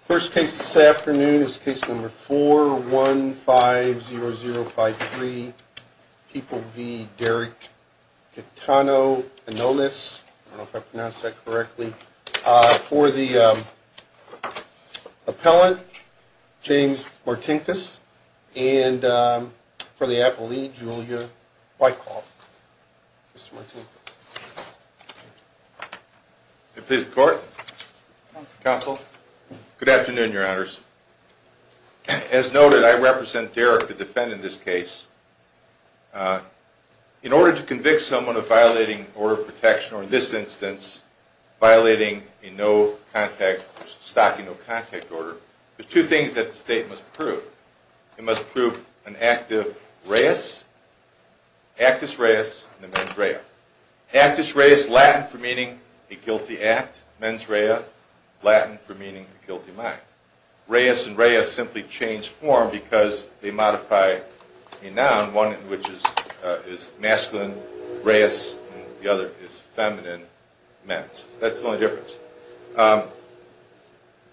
First case this afternoon is case number 4150053 People v. Derrick Caetano-Anolles, I don't know if I pronounced that correctly, for the appellant, James Martinkus, and for the appellee, Julia Wyckoff. May it please the court. Counsel. As noted, I represent Derrick, the defendant in this case. In order to convict someone of violating order of protection, or in this instance, violating a stocking no contact order, there's two things that the state must prove. They must prove an active reis, actus reis, and a mens rea. Actus reis, Latin for meaning a guilty act, mens rea, Latin for meaning a guilty mind. Reis and rea simply change form because they modify a noun, one which is masculine, reis, and the other is feminine, mens. That's the only difference.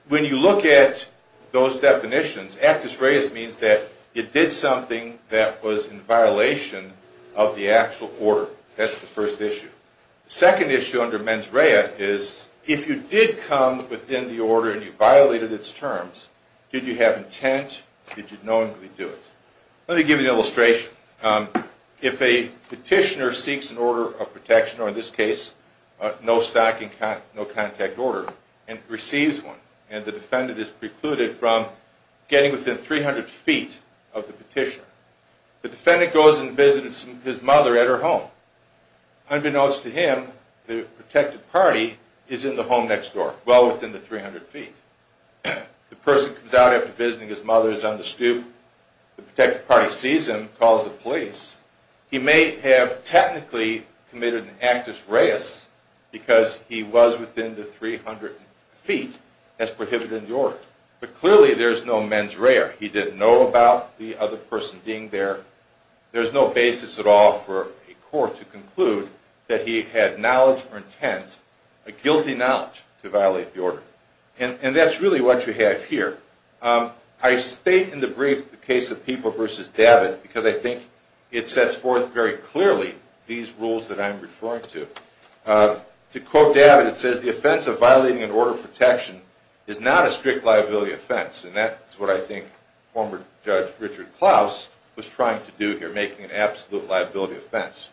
When you look at those definitions, actus reis means that it did something that was in violation of the actual order. That's the first issue. The second issue under mens rea is if you did come within the order and you violated its terms, did you have intent? Did you knowingly do it? Let me give you an illustration. If a petitioner seeks an order of protection, or in this case, no stocking no contact order, and receives one, and the defendant is precluded from getting within 300 feet of the petitioner, the defendant goes and visits his mother at her home. Unbeknownst to him, the protected party is in the home next door, well within the 300 feet. The person comes out after visiting his mother is on the stoop. The protected party sees him, calls the police. He may have technically committed an actus reis because he was within the 300 feet. That's prohibited in the order. But clearly there's no mens rea. He didn't know about the other person being there. There's no basis at all for a court to conclude that he had knowledge or intent, a guilty knowledge, to violate the order. And that's really what you have here. I state in the brief the case of People v. David because I think it sets forth very clearly these rules that I'm referring to. To quote David, it says, the offense of violating an order of protection is not a strict liability offense. And that's what I think former Judge Richard Klaus was trying to do here, making an absolute liability offense.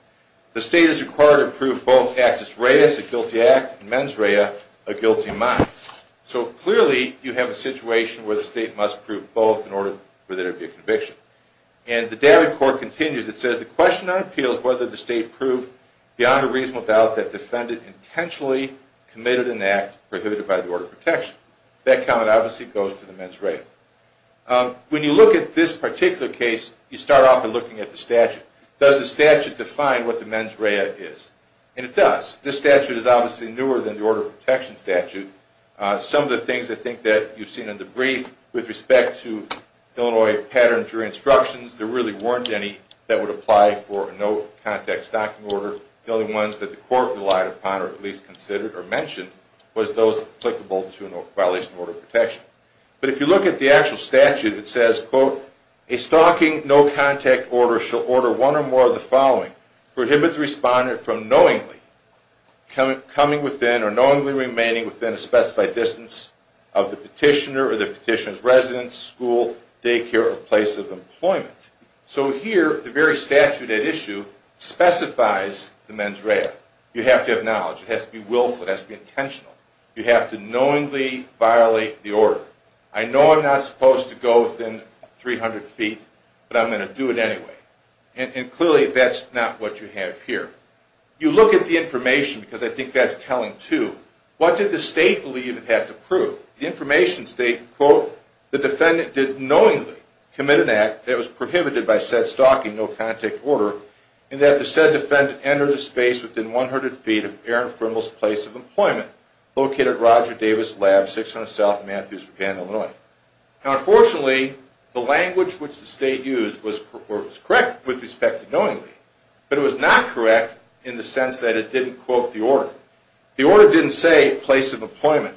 The state is required to prove both actus reis, a guilty act, and mens rea, a guilty mind. So clearly you have a situation where the state must prove both in order for there to be a conviction. And the David court continues. It says, the question on appeal is whether the state proved beyond a reasonable doubt that the defendant intentionally committed an act prohibited by the order of protection. That comment obviously goes to the mens rea. When you look at this particular case, you start off by looking at the statute. Does the statute define what the mens rea is? And it does. This statute is obviously newer than the order of protection statute. Some of the things I think that you've seen in the brief with respect to Illinois patterns or instructions, there really weren't any that would apply for a no contact stocking order. The only ones that the court relied upon, or at least considered or mentioned, was those applicable to a violation of order of protection. But if you look at the actual statute, it says, quote, a stocking no contact order shall order one or more of the following. Prohibit the respondent from knowingly coming within or knowingly remaining within a specified distance of the petitioner or the petitioner's residence, school, daycare, or place of employment. So here, the very statute at issue specifies the mens rea. You have to have knowledge. It has to be willful. It has to be intentional. You have to knowingly violate the order. I know I'm not supposed to go within 300 feet, but I'm going to do it anyway. And clearly, that's not what you have here. You look at the information, because I think that's telling, too. What did the state believe it had to prove? The information states, quote, the defendant did knowingly commit an act that was prohibited by said stocking no contact order, in that the said defendant entered a space within 100 feet of Aaron Frimmel's place of employment, located at Roger Davis Lab, 600 South Matthews, Japan, Illinois. Now, unfortunately, the language which the state used was correct with respect to knowingly, but it was not correct in the sense that it didn't quote the order. The order didn't say place of employment.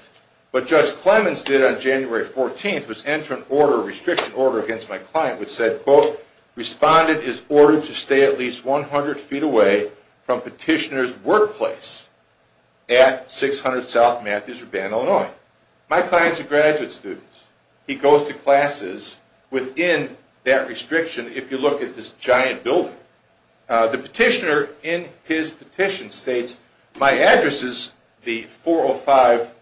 What Judge Clemens did on January 14th was enter a restriction order against my client, which said, quote, Respondent is ordered to stay at least 100 feet away from petitioner's workplace at 600 South Matthews, Japan, Illinois. My client's a graduate student. He goes to classes within that restriction, if you look at this giant building. The petitioner, in his petition, states, my address is the 405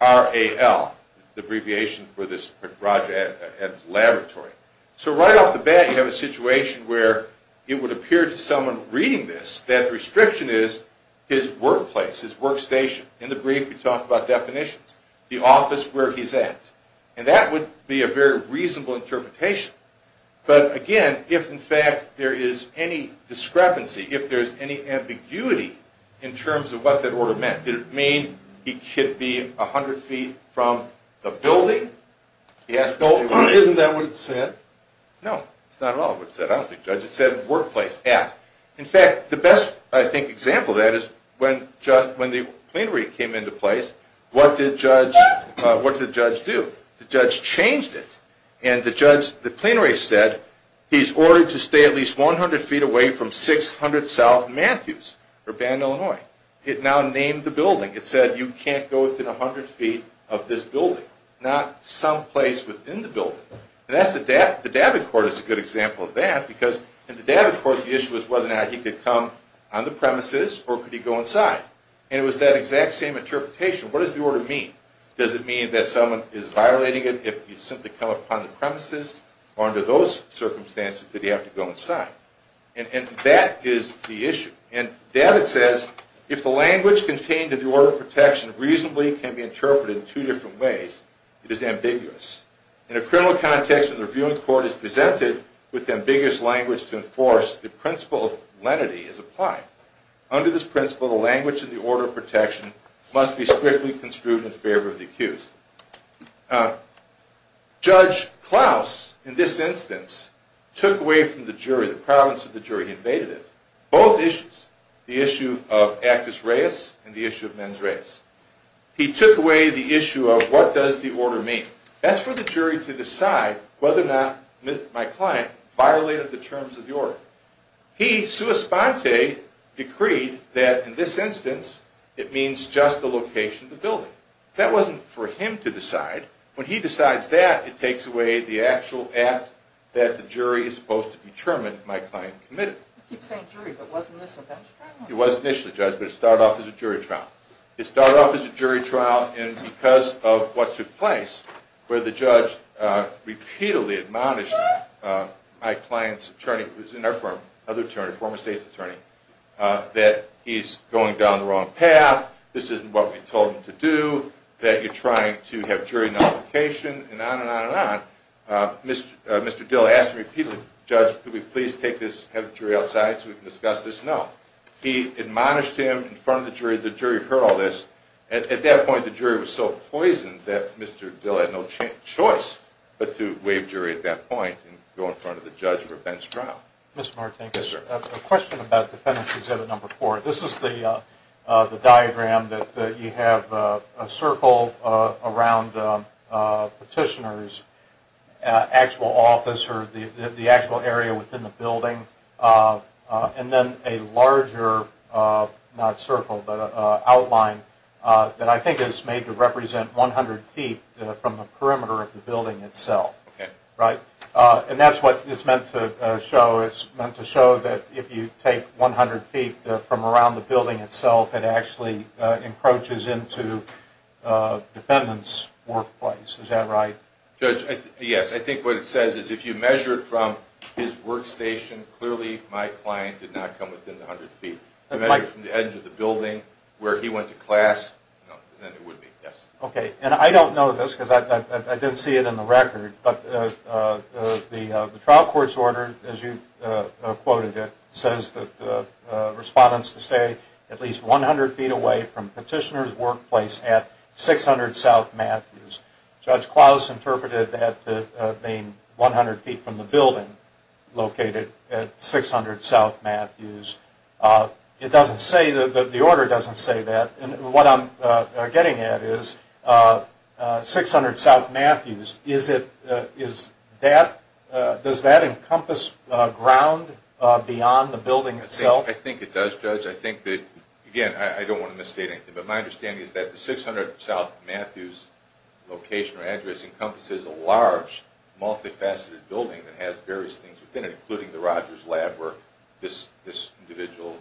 RAL, the abbreviation for this Roger Evans Laboratory. So right off the bat, you have a situation where it would appear to someone reading this that the restriction is his workplace, his workstation. In the brief, we talk about definitions. The office where he's at. And that would be a very reasonable interpretation. But again, if in fact there is any discrepancy, if there's any ambiguity in terms of what that order meant, did it mean he could be 100 feet from the building? Isn't that what it said? No, it's not at all what it said. I don't think Judge, it said workplace at. In fact, the best, I think, example of that is when the plenary came into place, what did Judge do? The Judge changed it. And the plenary said, he's ordered to stay at least 100 feet away from 600 South Matthews, Japan, Illinois. It now named the building. It said, you can't go within 100 feet of this building. Not someplace within the building. And that's the, the David Court is a good example of that, because in the David Court, the issue was whether or not he could come on the premises, or could he go inside. And it was that exact same interpretation. What does the order mean? Does it mean that someone is violating it if you simply come upon the premises, or under those circumstances, did he have to go inside? And that is the issue. And David says, if the language contained in the order of protection reasonably can be interpreted in two different ways, it is ambiguous. In a criminal context, when the review of the court is presented with ambiguous language to enforce, the principle of lenity is applied. Under this principle, the language of the order of protection must be strictly construed in favor of the accused. Judge Klaus, in this instance, took away from the jury, the province of the jury invaded it, both issues. The issue of actus reus and the issue of mens reus. He took away the issue of what does the order mean. That's for the jury to decide whether or not my client violated the terms of the order. He, sua sponte, decreed that, in this instance, it means just the location of the building. That wasn't for him to decide. When he decides that, it takes away the actual act that the jury is supposed to determine my client committed. You keep saying jury, but wasn't this a jury trial? It was initially, Judge, but it started off as a jury trial. It started off as a jury trial, and because of what took place, where the judge repeatedly admonished my client's attorney, who's in our firm, another attorney, former state's attorney, that he's going down the wrong path, this isn't what we told him to do, that you're trying to have jury nullification, and on and on and on. Mr. Dill asked me repeatedly, Judge, could we please take this, have the jury outside so we can discuss this? No. He admonished him in front of the jury. The jury heard all this. At that point, the jury was so poisoned that Mr. Dill had no choice but to waive jury at that point and go in front of the judge for a bench trial. Mr. Martinkus, a question about Defendant's Exhibit No. 4. This is the diagram that you have a circle around Petitioner's actual office or the actual area within the building, and then a larger, not circle, but outline that I think is made to represent 100 feet from the perimeter of the building itself. And that's what it's meant to show. It's meant to show that if you take 100 feet from around the building itself, it actually encroaches into Defendant's workplace. Is that right? Judge, yes. I think what it says is if you measured from his workstation, clearly my client did not come within 100 feet. If you measured from the edge of the building where he went to class, then it would be, yes. Okay, and I don't know this because I didn't see it in the record, but the trial court's order, as you quoted it, says that the respondents must stay at least 100 feet away from Petitioner's workplace at 600 South Matthews. Judge Klaus interpreted that to mean 100 feet from the building located at 600 South Matthews. It doesn't say, the order doesn't say that. And what I'm getting at is 600 South Matthews, does that encompass ground beyond the building itself? I think it does, Judge. I think that, again, I don't want to misstate anything, but my understanding is that the 600 South Matthews location or address encompasses a large, multifaceted building that has various things within it, including the Rogers lab where this individual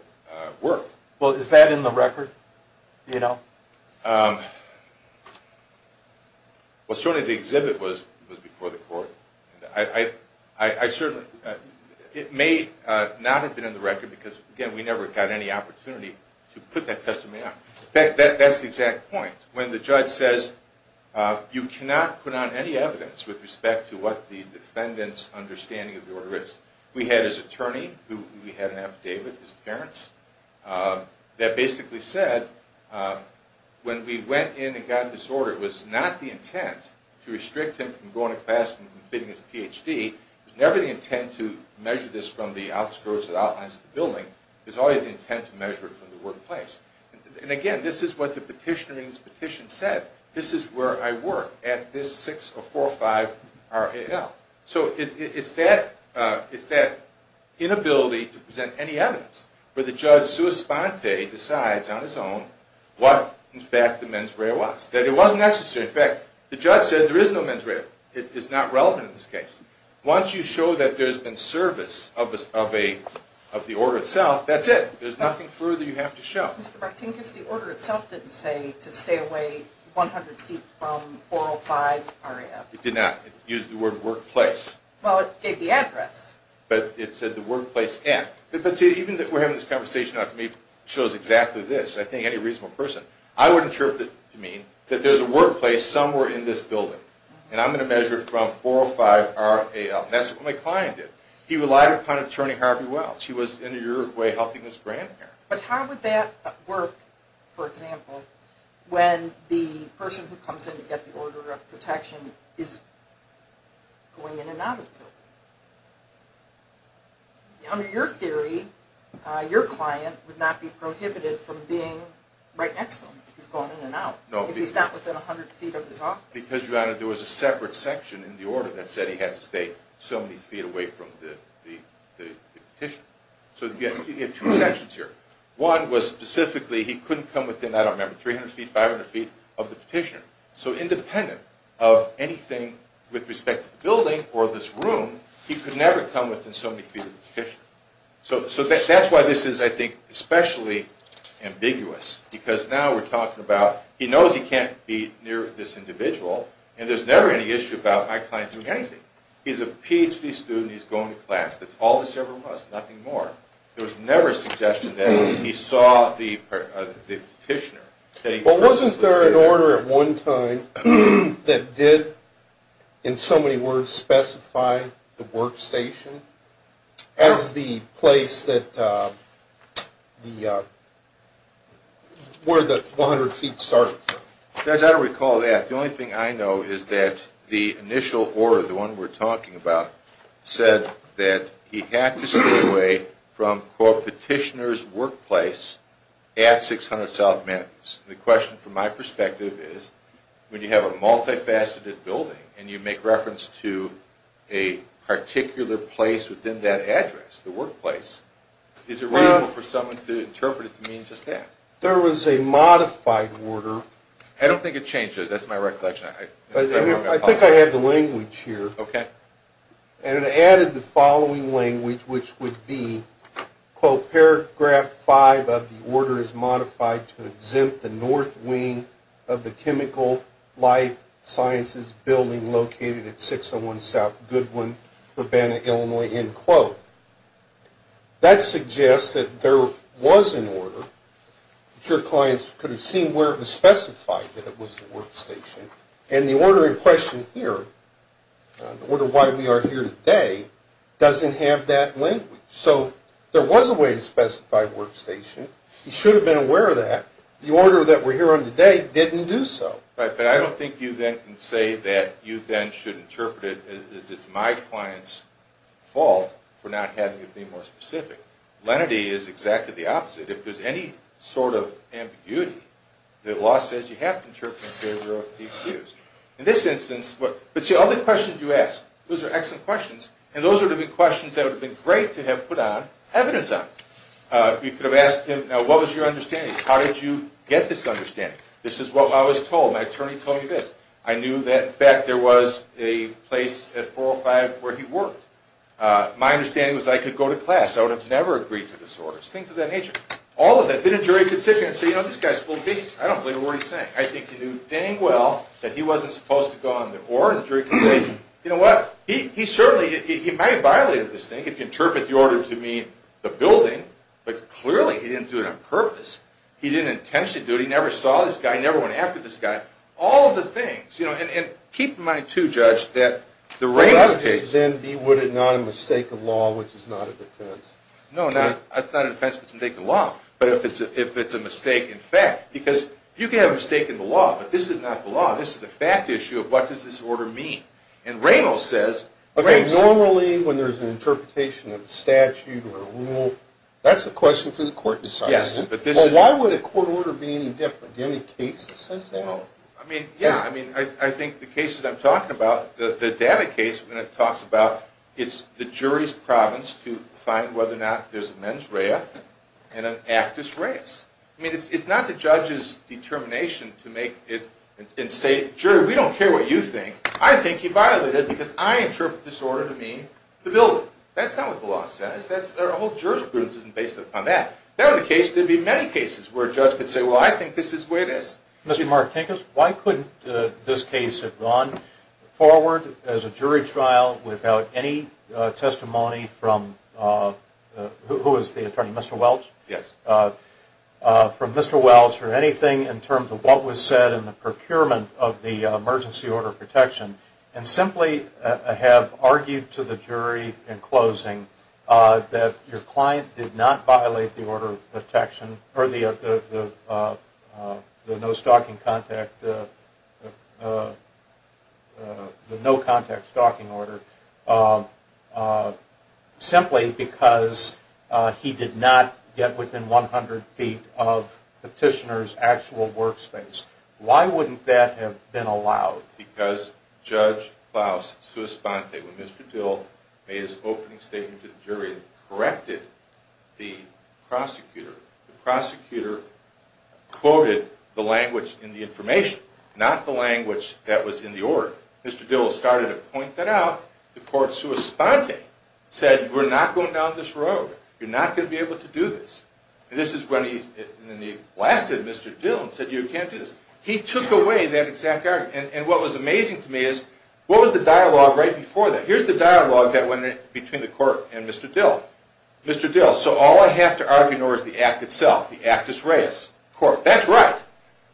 worked. Well, is that in the record? What's shown in the exhibit was before the court. It may not have been in the record because, again, we never got any opportunity to put that testimony out. That's the exact point. When the judge says you cannot put on any evidence with respect to what the defendant's understanding of the order is. We had his attorney, we had an affidavit, his parents, that basically said when we went in and got this order, it was not the intent to restrict him from going to class and getting his Ph.D. It was never the intent to measure this from the outskirts or the outlines of the building. It was always the intent to measure it from the workplace. And, again, this is what the petitioner in his petition said. This is where I work, at this 6045 RAL. So it's that inability to present any evidence where the judge, sua sponte, decides on his own what, in fact, the mens rea was. That it wasn't necessary. In fact, the judge said there is no mens rea. It is not relevant in this case. Once you show that there's been service of the order itself, that's it. There's nothing further you have to show. Mr. Bartinkus, the order itself didn't say to stay away 100 feet from 405 RAL. It did not. It used the word workplace. Well, it gave the address. But it said the workplace end. But, see, even if we're having this conversation, it shows exactly this. I think any reasonable person, I would interpret it to mean that there's a workplace somewhere in this building. And I'm going to measure it from 405 RAL. And that's what my client did. He relied upon Attorney Harvey Welch. He was, in a way, helping this grandparent. But how would that work, for example, when the person who comes in to get the order of protection is going in and out of the building? Under your theory, your client would not be prohibited from being right next to him if he's going in and out. No. If he's not within 100 feet of his office. Because, Your Honor, there was a separate section in the order that said he had to stay so many feet away from the petitioner. So you have two sections here. One was specifically he couldn't come within, I don't remember, 300 feet, 500 feet of the petitioner. So independent of anything with respect to the building or this room, he could never come within so many feet of the petitioner. So that's why this is, I think, especially ambiguous. Because now we're talking about he knows he can't be near this individual, and there's never any issue about my client doing anything. He's a Ph.D. student. He's going to class. That's all this ever was, nothing more. There was never a suggestion that he saw the petitioner. Well, wasn't there an order at one time that did, in so many words, specify the workstation as the place where the 100 feet started from? Judge, I don't recall that. The only thing I know is that the initial order, the one we're talking about, said that he had to stay away from, quote, petitioner's workplace at 600 South Matthews. The question, from my perspective, is when you have a multifaceted building and you make reference to a particular place within that address, the workplace, is it reasonable for someone to interpret it to mean just that? There was a modified order. I don't think it changes. That's my recollection. I think I have the language here. Okay. And it added the following language, which would be, quote, paragraph 5 of the order is modified to exempt the north wing of the chemical life sciences building located at 601 South Goodwin, Urbana, Illinois, end quote. That suggests that there was an order. I'm sure clients could have seen where it was specified that it was the workstation. And the order in question here, the order why we are here today, doesn't have that language. So there was a way to specify workstation. He should have been aware of that. The order that we're here on today didn't do so. Right, but I don't think you then can say that you then should interpret it as it's my client's fault for not having it be more specific. Lenity is exactly the opposite. If there's any sort of ambiguity, the law says you have to interpret it in favor of the accused. In this instance, but see, all the questions you asked, those are excellent questions, and those would have been questions that would have been great to have put evidence on. You could have asked him, what was your understanding? How did you get this understanding? This is what I was told. My attorney told me this. I knew that, in fact, there was a place at 405 where he worked. My understanding was I could go to class. I would have never agreed to this order. Things of that nature. All of that. Then a jury could sit here and say, you know, this guy's full of bees. I don't believe a word he's saying. I think he knew dang well that he wasn't supposed to go on the order. The jury could say, you know what, he certainly, he might have violated this thing if you interpret the order to mean the building, but clearly he didn't do it on purpose. He didn't intentionally do it. He never saw this guy. He never went after this guy. All of the things, you know, and keep in mind, too, Judge, that the rape case. Well, that would just then be, would it not, a mistake of law, which is not a defense? No, it's not a defense if it's a mistake of law, but if it's a mistake in fact. Because you can have a mistake in the law, but this is not the law. This is a fact issue of what does this order mean. And Ramos says. Okay, normally when there's an interpretation of a statute or a rule, that's a question for the court to decide. Yes, but this is. Well, why would a court order be any different? Do you have any cases that says that? I mean, yeah. I mean, I think the cases I'm talking about, the Davitt case, when it talks about it's the jury's province to find whether or not there's a mens rea and an actus reus. I mean, it's not the judge's determination to make it and say, Jury, we don't care what you think. I think you violated it because I interpret this order to mean the building. That's not what the law says. Our whole jurisprudence isn't based upon that. There are the cases, there would be many cases where a judge could say, Well, I think this is the way it is. Mr. Martinkus, why couldn't this case have gone forward as a jury trial without any testimony from, who was the attorney, Mr. Welch? Yes. From Mr. Welch or anything in terms of what was said in the procurement of the emergency order of protection and simply have argued to the jury in closing that your client did not violate the order of protection or the no-contact stalking order simply because he did not get within 100 feet of petitioner's actual workspace. Why wouldn't that have been allowed? Because Judge Klaus Suosponte, when Mr. Dill made his opening statement to the jury and corrected the prosecutor, the prosecutor quoted the language in the information, not the language that was in the order. Mr. Dill started to point that out. The court, Suosponte, said, We're not going down this road. You're not going to be able to do this. And this is when he blasted Mr. Dill and said, You can't do this. He took away that exact argument. And what was amazing to me is what was the dialogue right before that? Here's the dialogue that went in between the court and Mr. Dill. Mr. Dill, So all I have to argue in order is the act itself, the actus reus. Court, That's right.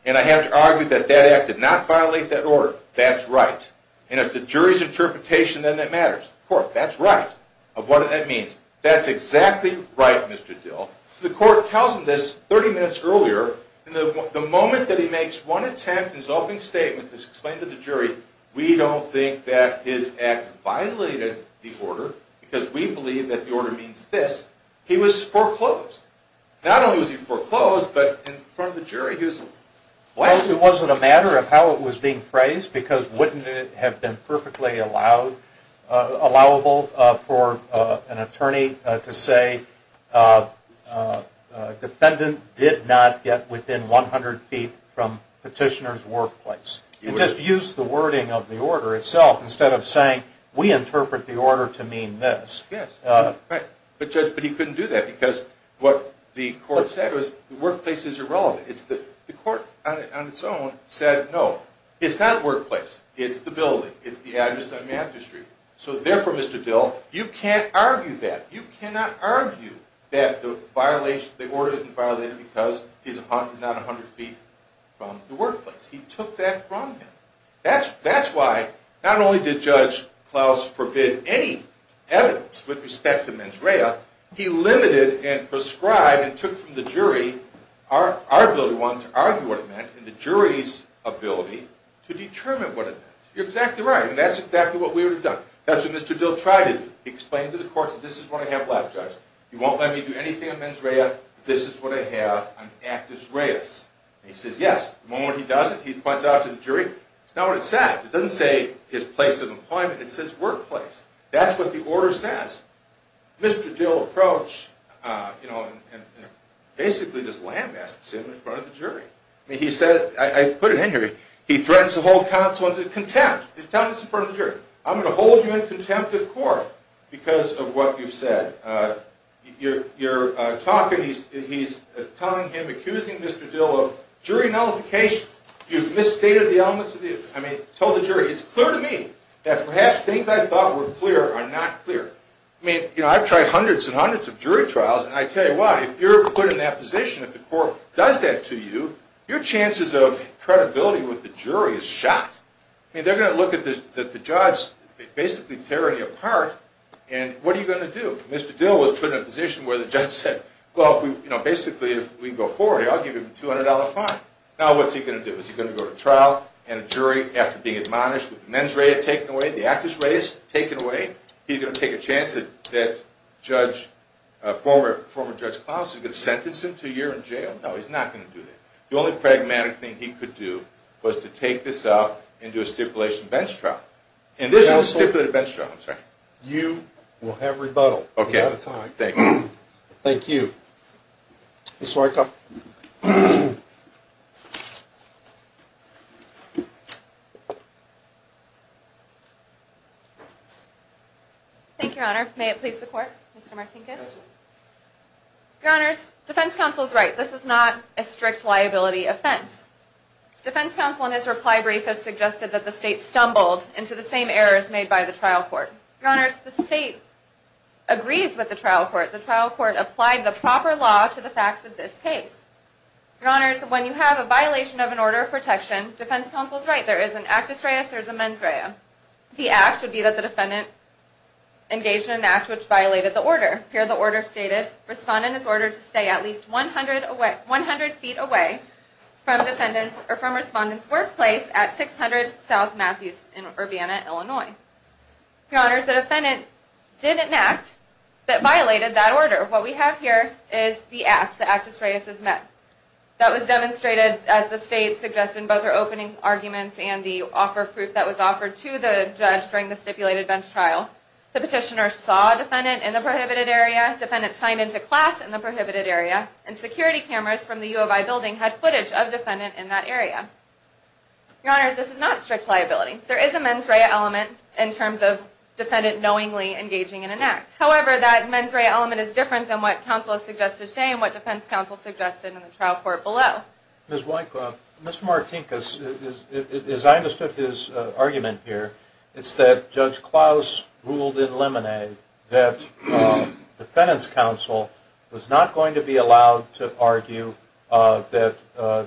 And I have to argue that that act did not violate that order. That's right. And if the jury's interpretation, then that matters. Court, That's right. Of what that means. That's exactly right, Mr. Dill. The court tells him this 30 minutes earlier. The moment that he makes one attempt in his opening statement to explain to the jury, We don't think that his act violated the order because we believe that the order means this. He was foreclosed. Not only was he foreclosed, but in front of the jury, he was blasted. It wasn't a matter of how it was being phrased because wouldn't it have been perfectly allowable for an attorney to say, Defendant did not get within 100 feet from petitioner's workplace. And just use the wording of the order itself instead of saying, we interpret the order to mean this. Yes. But Judge, but he couldn't do that because what the court said was the workplace is irrelevant. The court on its own said, no, it's not workplace. It's the building. It's the address on Matthew Street. So therefore, Mr. Dill, you can't argue that. You cannot argue that the order isn't violated because he's not 100 feet from the workplace. He took that from him. That's why not only did Judge Klaus forbid any evidence with respect to mens rea, he limited and prescribed and took from the jury our ability to argue what it meant and the jury's ability to determine what it meant. You're exactly right. And that's exactly what we would have done. That's what Mr. Dill tried to do. He explained to the court, this is what I have left, Judge. You won't let me do anything on mens rea. This is what I have. I'm an actus reus. And he says, yes. The moment he does it, he points it out to the jury. It's not what it says. It doesn't say his place of employment. It says workplace. That's what the order says. Mr. Dill approached and basically just lambasted him in front of the jury. I mean, he says, I put it in here, he threatens to hold counsel into contempt. He's telling this in front of the jury. I'm going to hold you in contempt of court because of what you've said. You're talking, he's telling him, accusing Mr. Dill of jury nullification. You've misstated the elements of the evidence. I mean, he told the jury, it's clear to me that perhaps things I thought were clear are not clear. I mean, you know, I've tried hundreds and hundreds of jury trials, and I tell you what, if you're put in that position, if the court does that to you, your chances of credibility with the jury is shot. I mean, they're going to look at the judge basically tearing you apart, and what are you going to do? Mr. Dill was put in a position where the judge said, well, you know, basically if we can go forward here, I'll give you a $200 fine. Now what's he going to do? Is he going to go to trial and a jury after being admonished with the men's rate taken away, the actress rate is taken away? He's going to take a chance that former Judge Klaus is going to sentence him to a year in jail? No, he's not going to do that. The only pragmatic thing he could do was to take this out and do a stipulation bench trial. And this is a stipulated bench trial, I'm sorry. You will have rebuttal. Okay. Thank you. Thank you. Ms. Wyckoff. Thank you, Your Honor. May it please the Court, Mr. Martinkus? Go ahead. Your Honors, defense counsel is right. This is not a strict liability offense. Defense counsel in his reply brief has suggested that the state stumbled into the same errors made by the trial court. Your Honors, the state agrees with the trial court. The trial court applied the proper law to the facts of this case. Your Honors, when you have a violation of an order of protection, defense counsel is right. There is an actus reus, there is a mens rea. The act would be that the defendant engaged in an act which violated the order. Here the order stated, respondent is ordered to stay at least 100 feet away from respondent's workplace at 600 South Matthews in Urbana, Illinois. Your Honors, the defendant did enact, but violated that order. What we have here is the act, the actus reus is met. That was demonstrated as the state suggested in both their opening arguments and the offer of proof that was offered to the judge during the stipulated bench trial. The petitioner saw defendant in the prohibited area, defendant signed into class in the prohibited area, and security cameras from the U of I building had footage of defendant in that area. Your Honors, this is not strict liability. There is a mens rea element in terms of defendant knowingly engaging in an act. However, that mens rea element is different than what counsel has suggested today and what defense counsel suggested in the trial court below. Ms. Weickoff, Mr. Martinkus, as I understood his argument here, it's that Judge Klaus ruled in Lemonade that defendant's counsel was not going to be allowed to argue that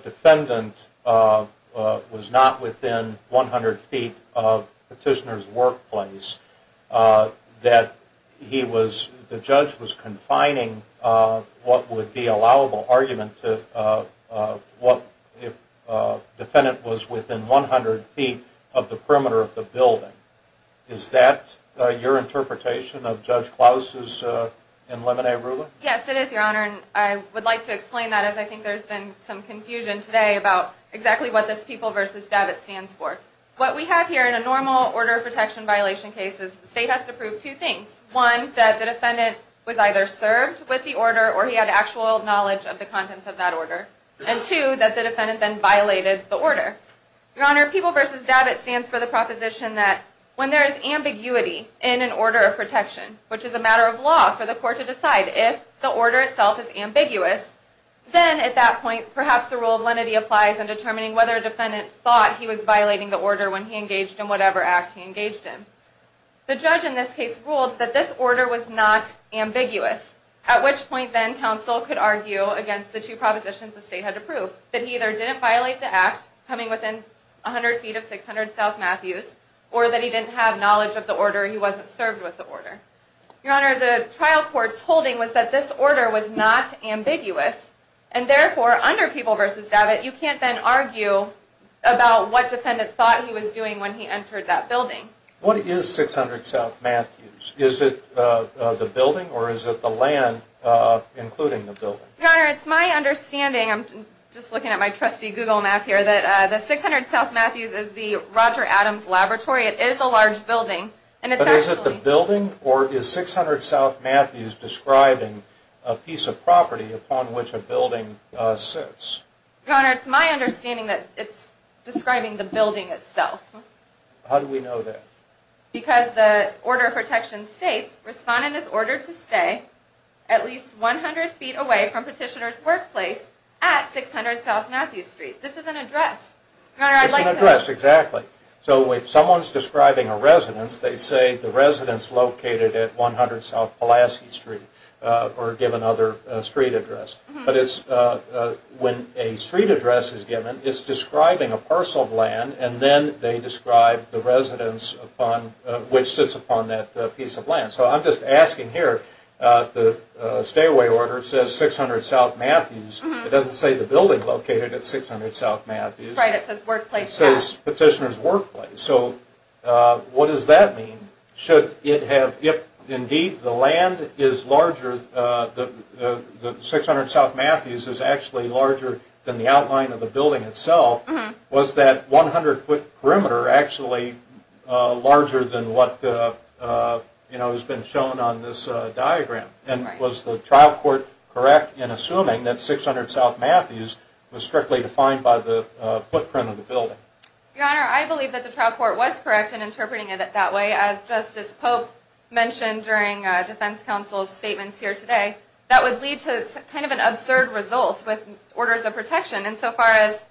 defendant was not within 100 feet of petitioner's workplace, that he was, the judge was confining what would be allowable argument to what if defendant was within 100 feet of the perimeter of the building. Is that your interpretation of Judge Klaus's in Lemonade ruling? Yes, it is, Your Honor, and I would like to explain that as I think there's been some confusion today about exactly what this PEOPLE v. DAVIT stands for. What we have here in a normal order of protection violation case is the state has to prove two things. One, that the defendant was either served with the order or he had actual knowledge of the contents of that order. And two, that the defendant then violated the order. Your Honor, PEOPLE v. DAVIT stands for the proposition that when there is ambiguity in an order of protection, which is a matter of law for the court to decide if the order itself is ambiguous, then at that point perhaps the rule of lenity applies in determining whether a defendant thought he was violating the order when he engaged in whatever act he engaged in. The judge in this case ruled that this order was not ambiguous, at which point then counsel could argue against the two propositions the state had to prove, that he either didn't violate the act, coming within 100 feet of 600 South Matthews, or that he didn't have knowledge of the order, he wasn't served with the order. Your Honor, the trial court's holding was that this order was not ambiguous, and therefore under PEOPLE v. DAVIT you can't then argue about what defendant thought he was doing when he entered that building. What is 600 South Matthews? Is it the building or is it the land including the building? Your Honor, it's my understanding, I'm just looking at my trusty Google map here, that the 600 South Matthews is the Roger Adams Laboratory. It is a large building. But is it the building or is 600 South Matthews describing a piece of property upon which a building sits? Your Honor, it's my understanding that it's describing the building itself. How do we know that? Because the order of protection states, respondent is ordered to stay at least 100 feet away from petitioner's workplace at 600 South Matthews Street. This is an address. It's an address, exactly. So if someone's describing a residence, they say the residence located at 100 South Pulaski Street or give another street address. But when a street address is given, it's describing a parcel of land, and then they describe the residence which sits upon that piece of land. So I'm just asking here, the stay-away order says 600 South Matthews. It doesn't say the building located at 600 South Matthews. Right, it says workplace now. It says petitioner's workplace. So what does that mean? Should it have, if indeed the land is larger, the 600 South Matthews is actually larger than the outline of the building itself, was that 100 foot perimeter actually larger than what has been shown on this diagram? And was the trial court correct in assuming that 600 South Matthews was strictly defined by the footprint of the building? Your Honor, I believe that the trial court was correct in interpreting it that way. As Justice Pope mentioned during defense counsel's statements here today, that would lead to kind of an absurd result with orders of protection. And so far as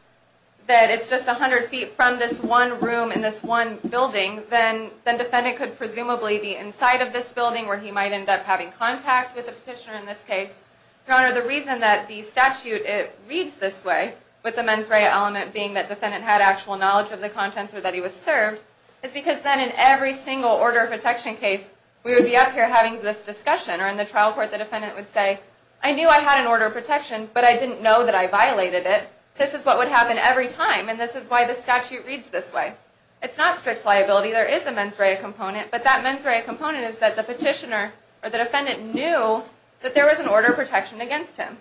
that it's just 100 feet from this one room in this one building, then defendant could presumably be inside of this building where he might end up having contact with the petitioner in this case. Your Honor, the reason that the statute reads this way, with the mens rea element being that defendant had actual knowledge of the contents or that he was served, is because then in every single order of protection case, we would be up here having this discussion, or in the trial court the defendant would say, I knew I had an order of protection, but I didn't know that I violated it. This is what would happen every time, and this is why the statute reads this way. It's not strict liability, there is a mens rea component, but that mens rea component is that the petitioner or the defendant knew that there was an order of protection against him.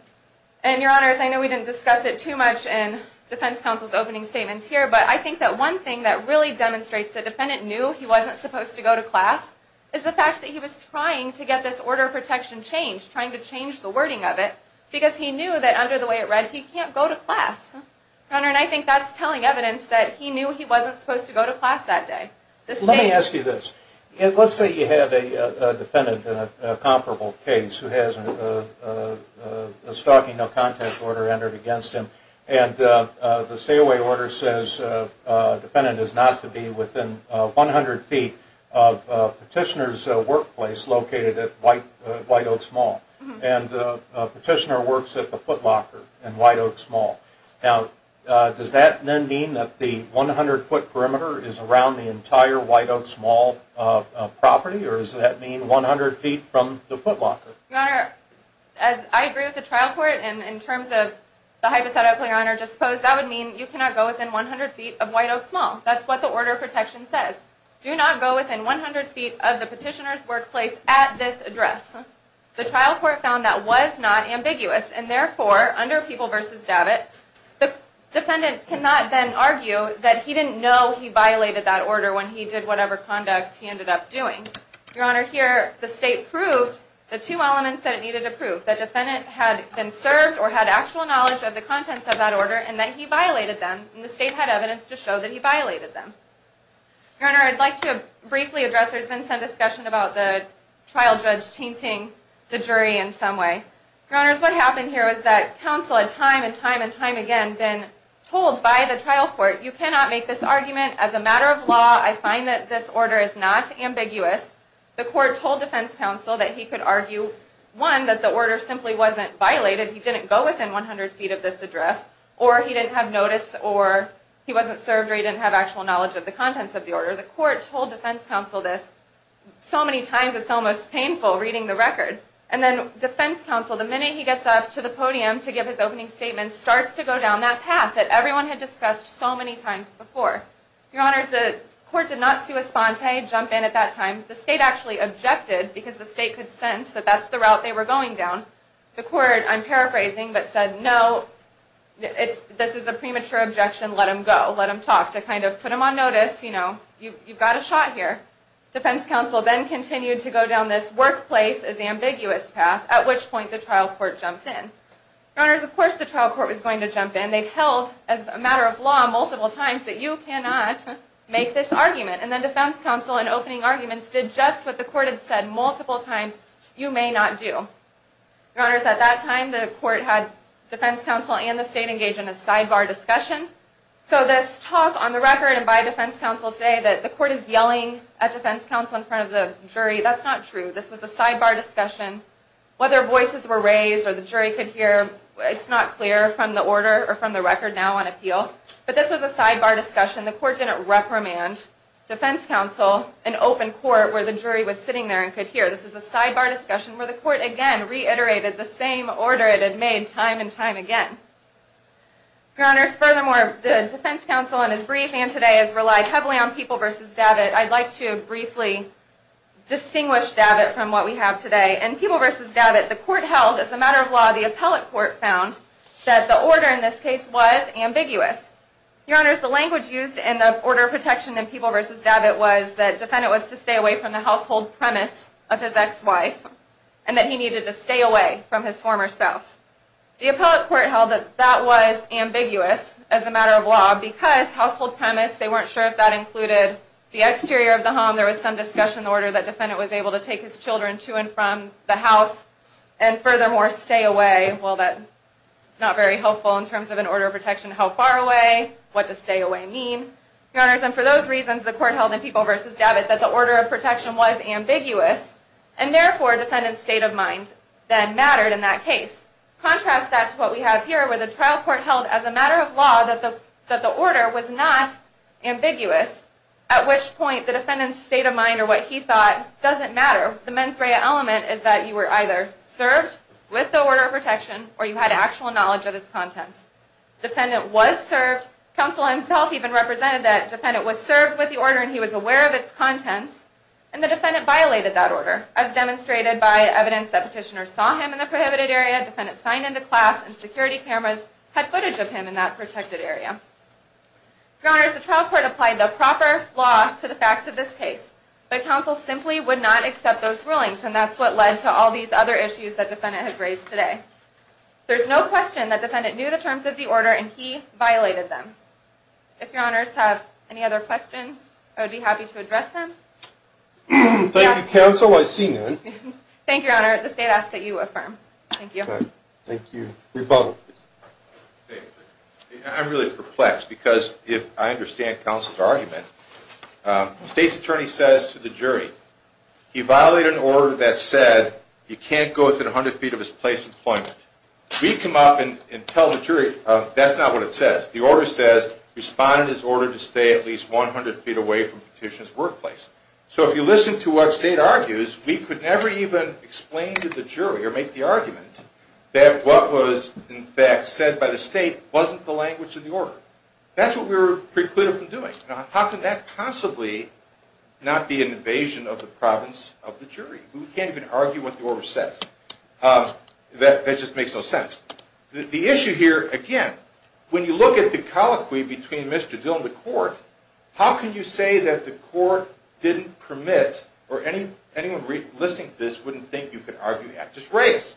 And Your Honor, I know we didn't discuss it too much in defense counsel's opening statements here, but I think that one thing that really demonstrates the defendant knew he wasn't supposed to go to class, is the fact that he was trying to get this order of protection changed, trying to change the wording of it, because he knew that under the way it read, he can't go to class. Your Honor, and I think that's telling evidence that he knew he wasn't supposed to go to class that day. Let me ask you this. Let's say you have a defendant in a comparable case who has a stalking no contest order entered against him, and the stay away order says the defendant is not to be within 100 feet of the petitioner's workplace located at White Oaks Mall. And the petitioner works at the footlocker in White Oaks Mall. Now, does that then mean that the 100 foot perimeter is around the entire White Oaks Mall property, or does that mean 100 feet from the footlocker? Your Honor, I agree with the trial court, and in terms of the hypothetical Your Honor just posed, that would mean you cannot go within 100 feet of White Oaks Mall. That's what the order of protection says. Do not go within 100 feet of the petitioner's workplace at this address. The trial court found that was not ambiguous, and therefore, under People v. Davitt, the defendant cannot then argue that he didn't know he violated that order when he did whatever conduct he ended up doing. Your Honor, here the state proved the two elements that it needed to prove, that defendant had been served or had actual knowledge of the contents of that order, and that he violated them, and the state had evidence to show that he violated them. Your Honor, I'd like to briefly address, there's been some discussion about the trial judge tainting the jury in some way. Your Honors, what happened here was that counsel had time and time and time again been told by the trial court, you cannot make this argument, as a matter of law, I find that this order is not ambiguous. The court told defense counsel that he could argue, one, that the order simply wasn't violated, he didn't go within 100 feet of this address, or he didn't have notice, or he wasn't served or he didn't have actual knowledge of the contents of the order. The court told defense counsel this so many times it's almost painful reading the record. And then defense counsel, the minute he gets up to the podium to give his opening statement, starts to go down that path that everyone had discussed so many times before. Your Honors, the court did not sui sponte, jump in at that time. The state actually objected, because the state could sense that that's the route they were going down. The court, I'm paraphrasing, but said no, this is a premature objection, let him go. Let him talk to kind of put him on notice, you know, you've got a shot here. Defense counsel then continued to go down this workplace is ambiguous path, at which point the trial court jumped in. Your Honors, of course the trial court was going to jump in. They'd held, as a matter of law, multiple times that you cannot make this argument. And then defense counsel, in opening arguments, did just what the court had said multiple times, you may not do. Your Honors, at that time the court had defense counsel and the state engaged in a sidebar discussion. So this talk on the record and by defense counsel today, that the court is yelling at defense counsel in front of the jury, that's not true. This was a sidebar discussion. Whether voices were raised or the jury could hear, it's not clear from the order or from the record now on appeal. But this was a sidebar discussion. The court didn't reprimand defense counsel in open court where the jury was sitting there and could hear. This is a sidebar discussion where the court, again, reiterated the same order it had made time and time again. Your Honors, furthermore, the defense counsel in his brief and today has relied heavily on People v. Davitt. I'd like to briefly distinguish Davitt from what we have today. In People v. Davitt, the court held, as a matter of law, the appellate court found that the order in this case was ambiguous. Your Honors, the language used in the order of protection in People v. Davitt was that defendant was to stay away from the household premise of his ex-wife and that he needed to stay away from his former spouse. The appellate court held that that was ambiguous as a matter of law because household premise, they weren't sure if that included the exterior of the home. There was some discussion in the order that defendant was able to take his children to and from the house and furthermore stay away. Well, that's not very helpful in terms of an order of protection. How far away? What does stay away mean? Your Honors, and for those reasons, the court held in People v. Davitt that the order of protection was ambiguous and therefore defendant's state of mind then mattered in that case. Contrast that to what we have here where the trial court held as a matter of law that the order was not ambiguous at which point the defendant's state of mind or what he thought doesn't matter. The mens rea element is that you were either served with the order of protection or you had actual knowledge of its contents. Defendant was served. Counsel himself even represented that. Defendant was served with the order and he was aware of its contents and the defendant violated that order as demonstrated by evidence that petitioner saw him in the prohibited area. Defendant signed into class and security cameras had footage of him in that protected area. Your Honors, the trial court applied the proper law to the facts of this case but counsel simply would not accept those rulings and that's what led to all these other issues that defendant has raised today. There's no question that defendant knew the terms of the order and he violated them. If Your Honors have any other questions, I would be happy to address them. Thank you, counsel. I see none. Thank you, Your Honor. The state asks that you affirm. Thank you. Thank you. Rebuttal, please. State's attorney says to the jury, he violated an order that said you can't go within 100 feet of his place of employment. We come up and tell the jury, that's not what it says. The order says respond in this order to stay at least 100 feet away from petitioner's workplace. So if you listen to what state argues, we could never even explain to the jury or make the argument that what was in fact said by the state wasn't the language of the order. That's what we were precluded from doing. How can that possibly not be an invasion of the province of the jury? We can't even argue what the order says. That just makes no sense. The issue here, again, when you look at the colloquy between Mr. Dill and the court, how can you say that the court didn't permit or anyone listening to this wouldn't think you could argue the act? Just raise.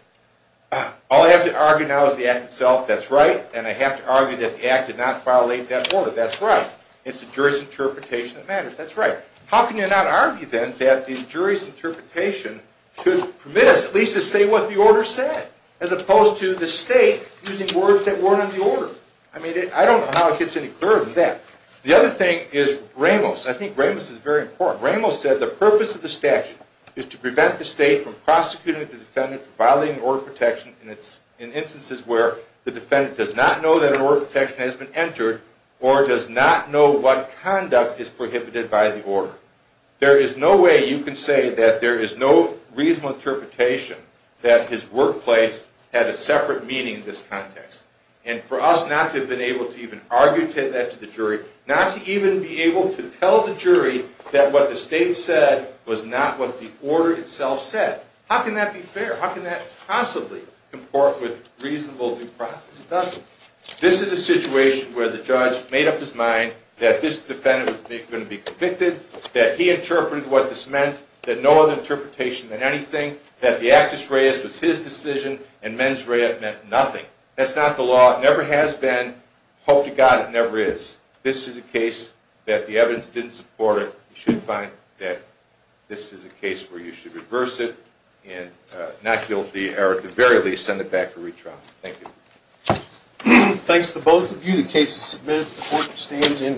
All I have to argue now is the act itself. That's right. And I have to argue that the act did not violate that order. That's right. It's the jury's interpretation that matters. That's right. How can you not argue then that the jury's interpretation should permit us at least to say what the order said, as opposed to the state using words that weren't in the order? I mean, I don't know how it gets any clearer than that. The other thing is Ramos. I think Ramos is very important. Ramos said the purpose of the statute is to prevent the state from prosecuting the defendant for violating order protection in instances where the defendant does not know that an order of protection has been entered or does not know what conduct is prohibited by the order. There is no way you can say that there is no reasonable interpretation that his workplace had a separate meaning in this context. And for us not to have been able to even argue that to the jury, not to even be able to tell the jury that what the state said was not what the order itself said. How can that be fair? How can that possibly comport with reasonable due process? It doesn't. This is a situation where the judge made up his mind that this defendant was going to be convicted, that he interpreted what this meant, that no other interpretation than anything, that the actus reus was his decision and mens rea meant nothing. That's not the law. It never has been. Hope to God it never is. This is a case that the evidence didn't support it. You should find that this is a case where you should reverse it and not guilty, or at the very least, send it back to retrial. Thank you. Thanks to both of you. The case is submitted. The court abstains and resets.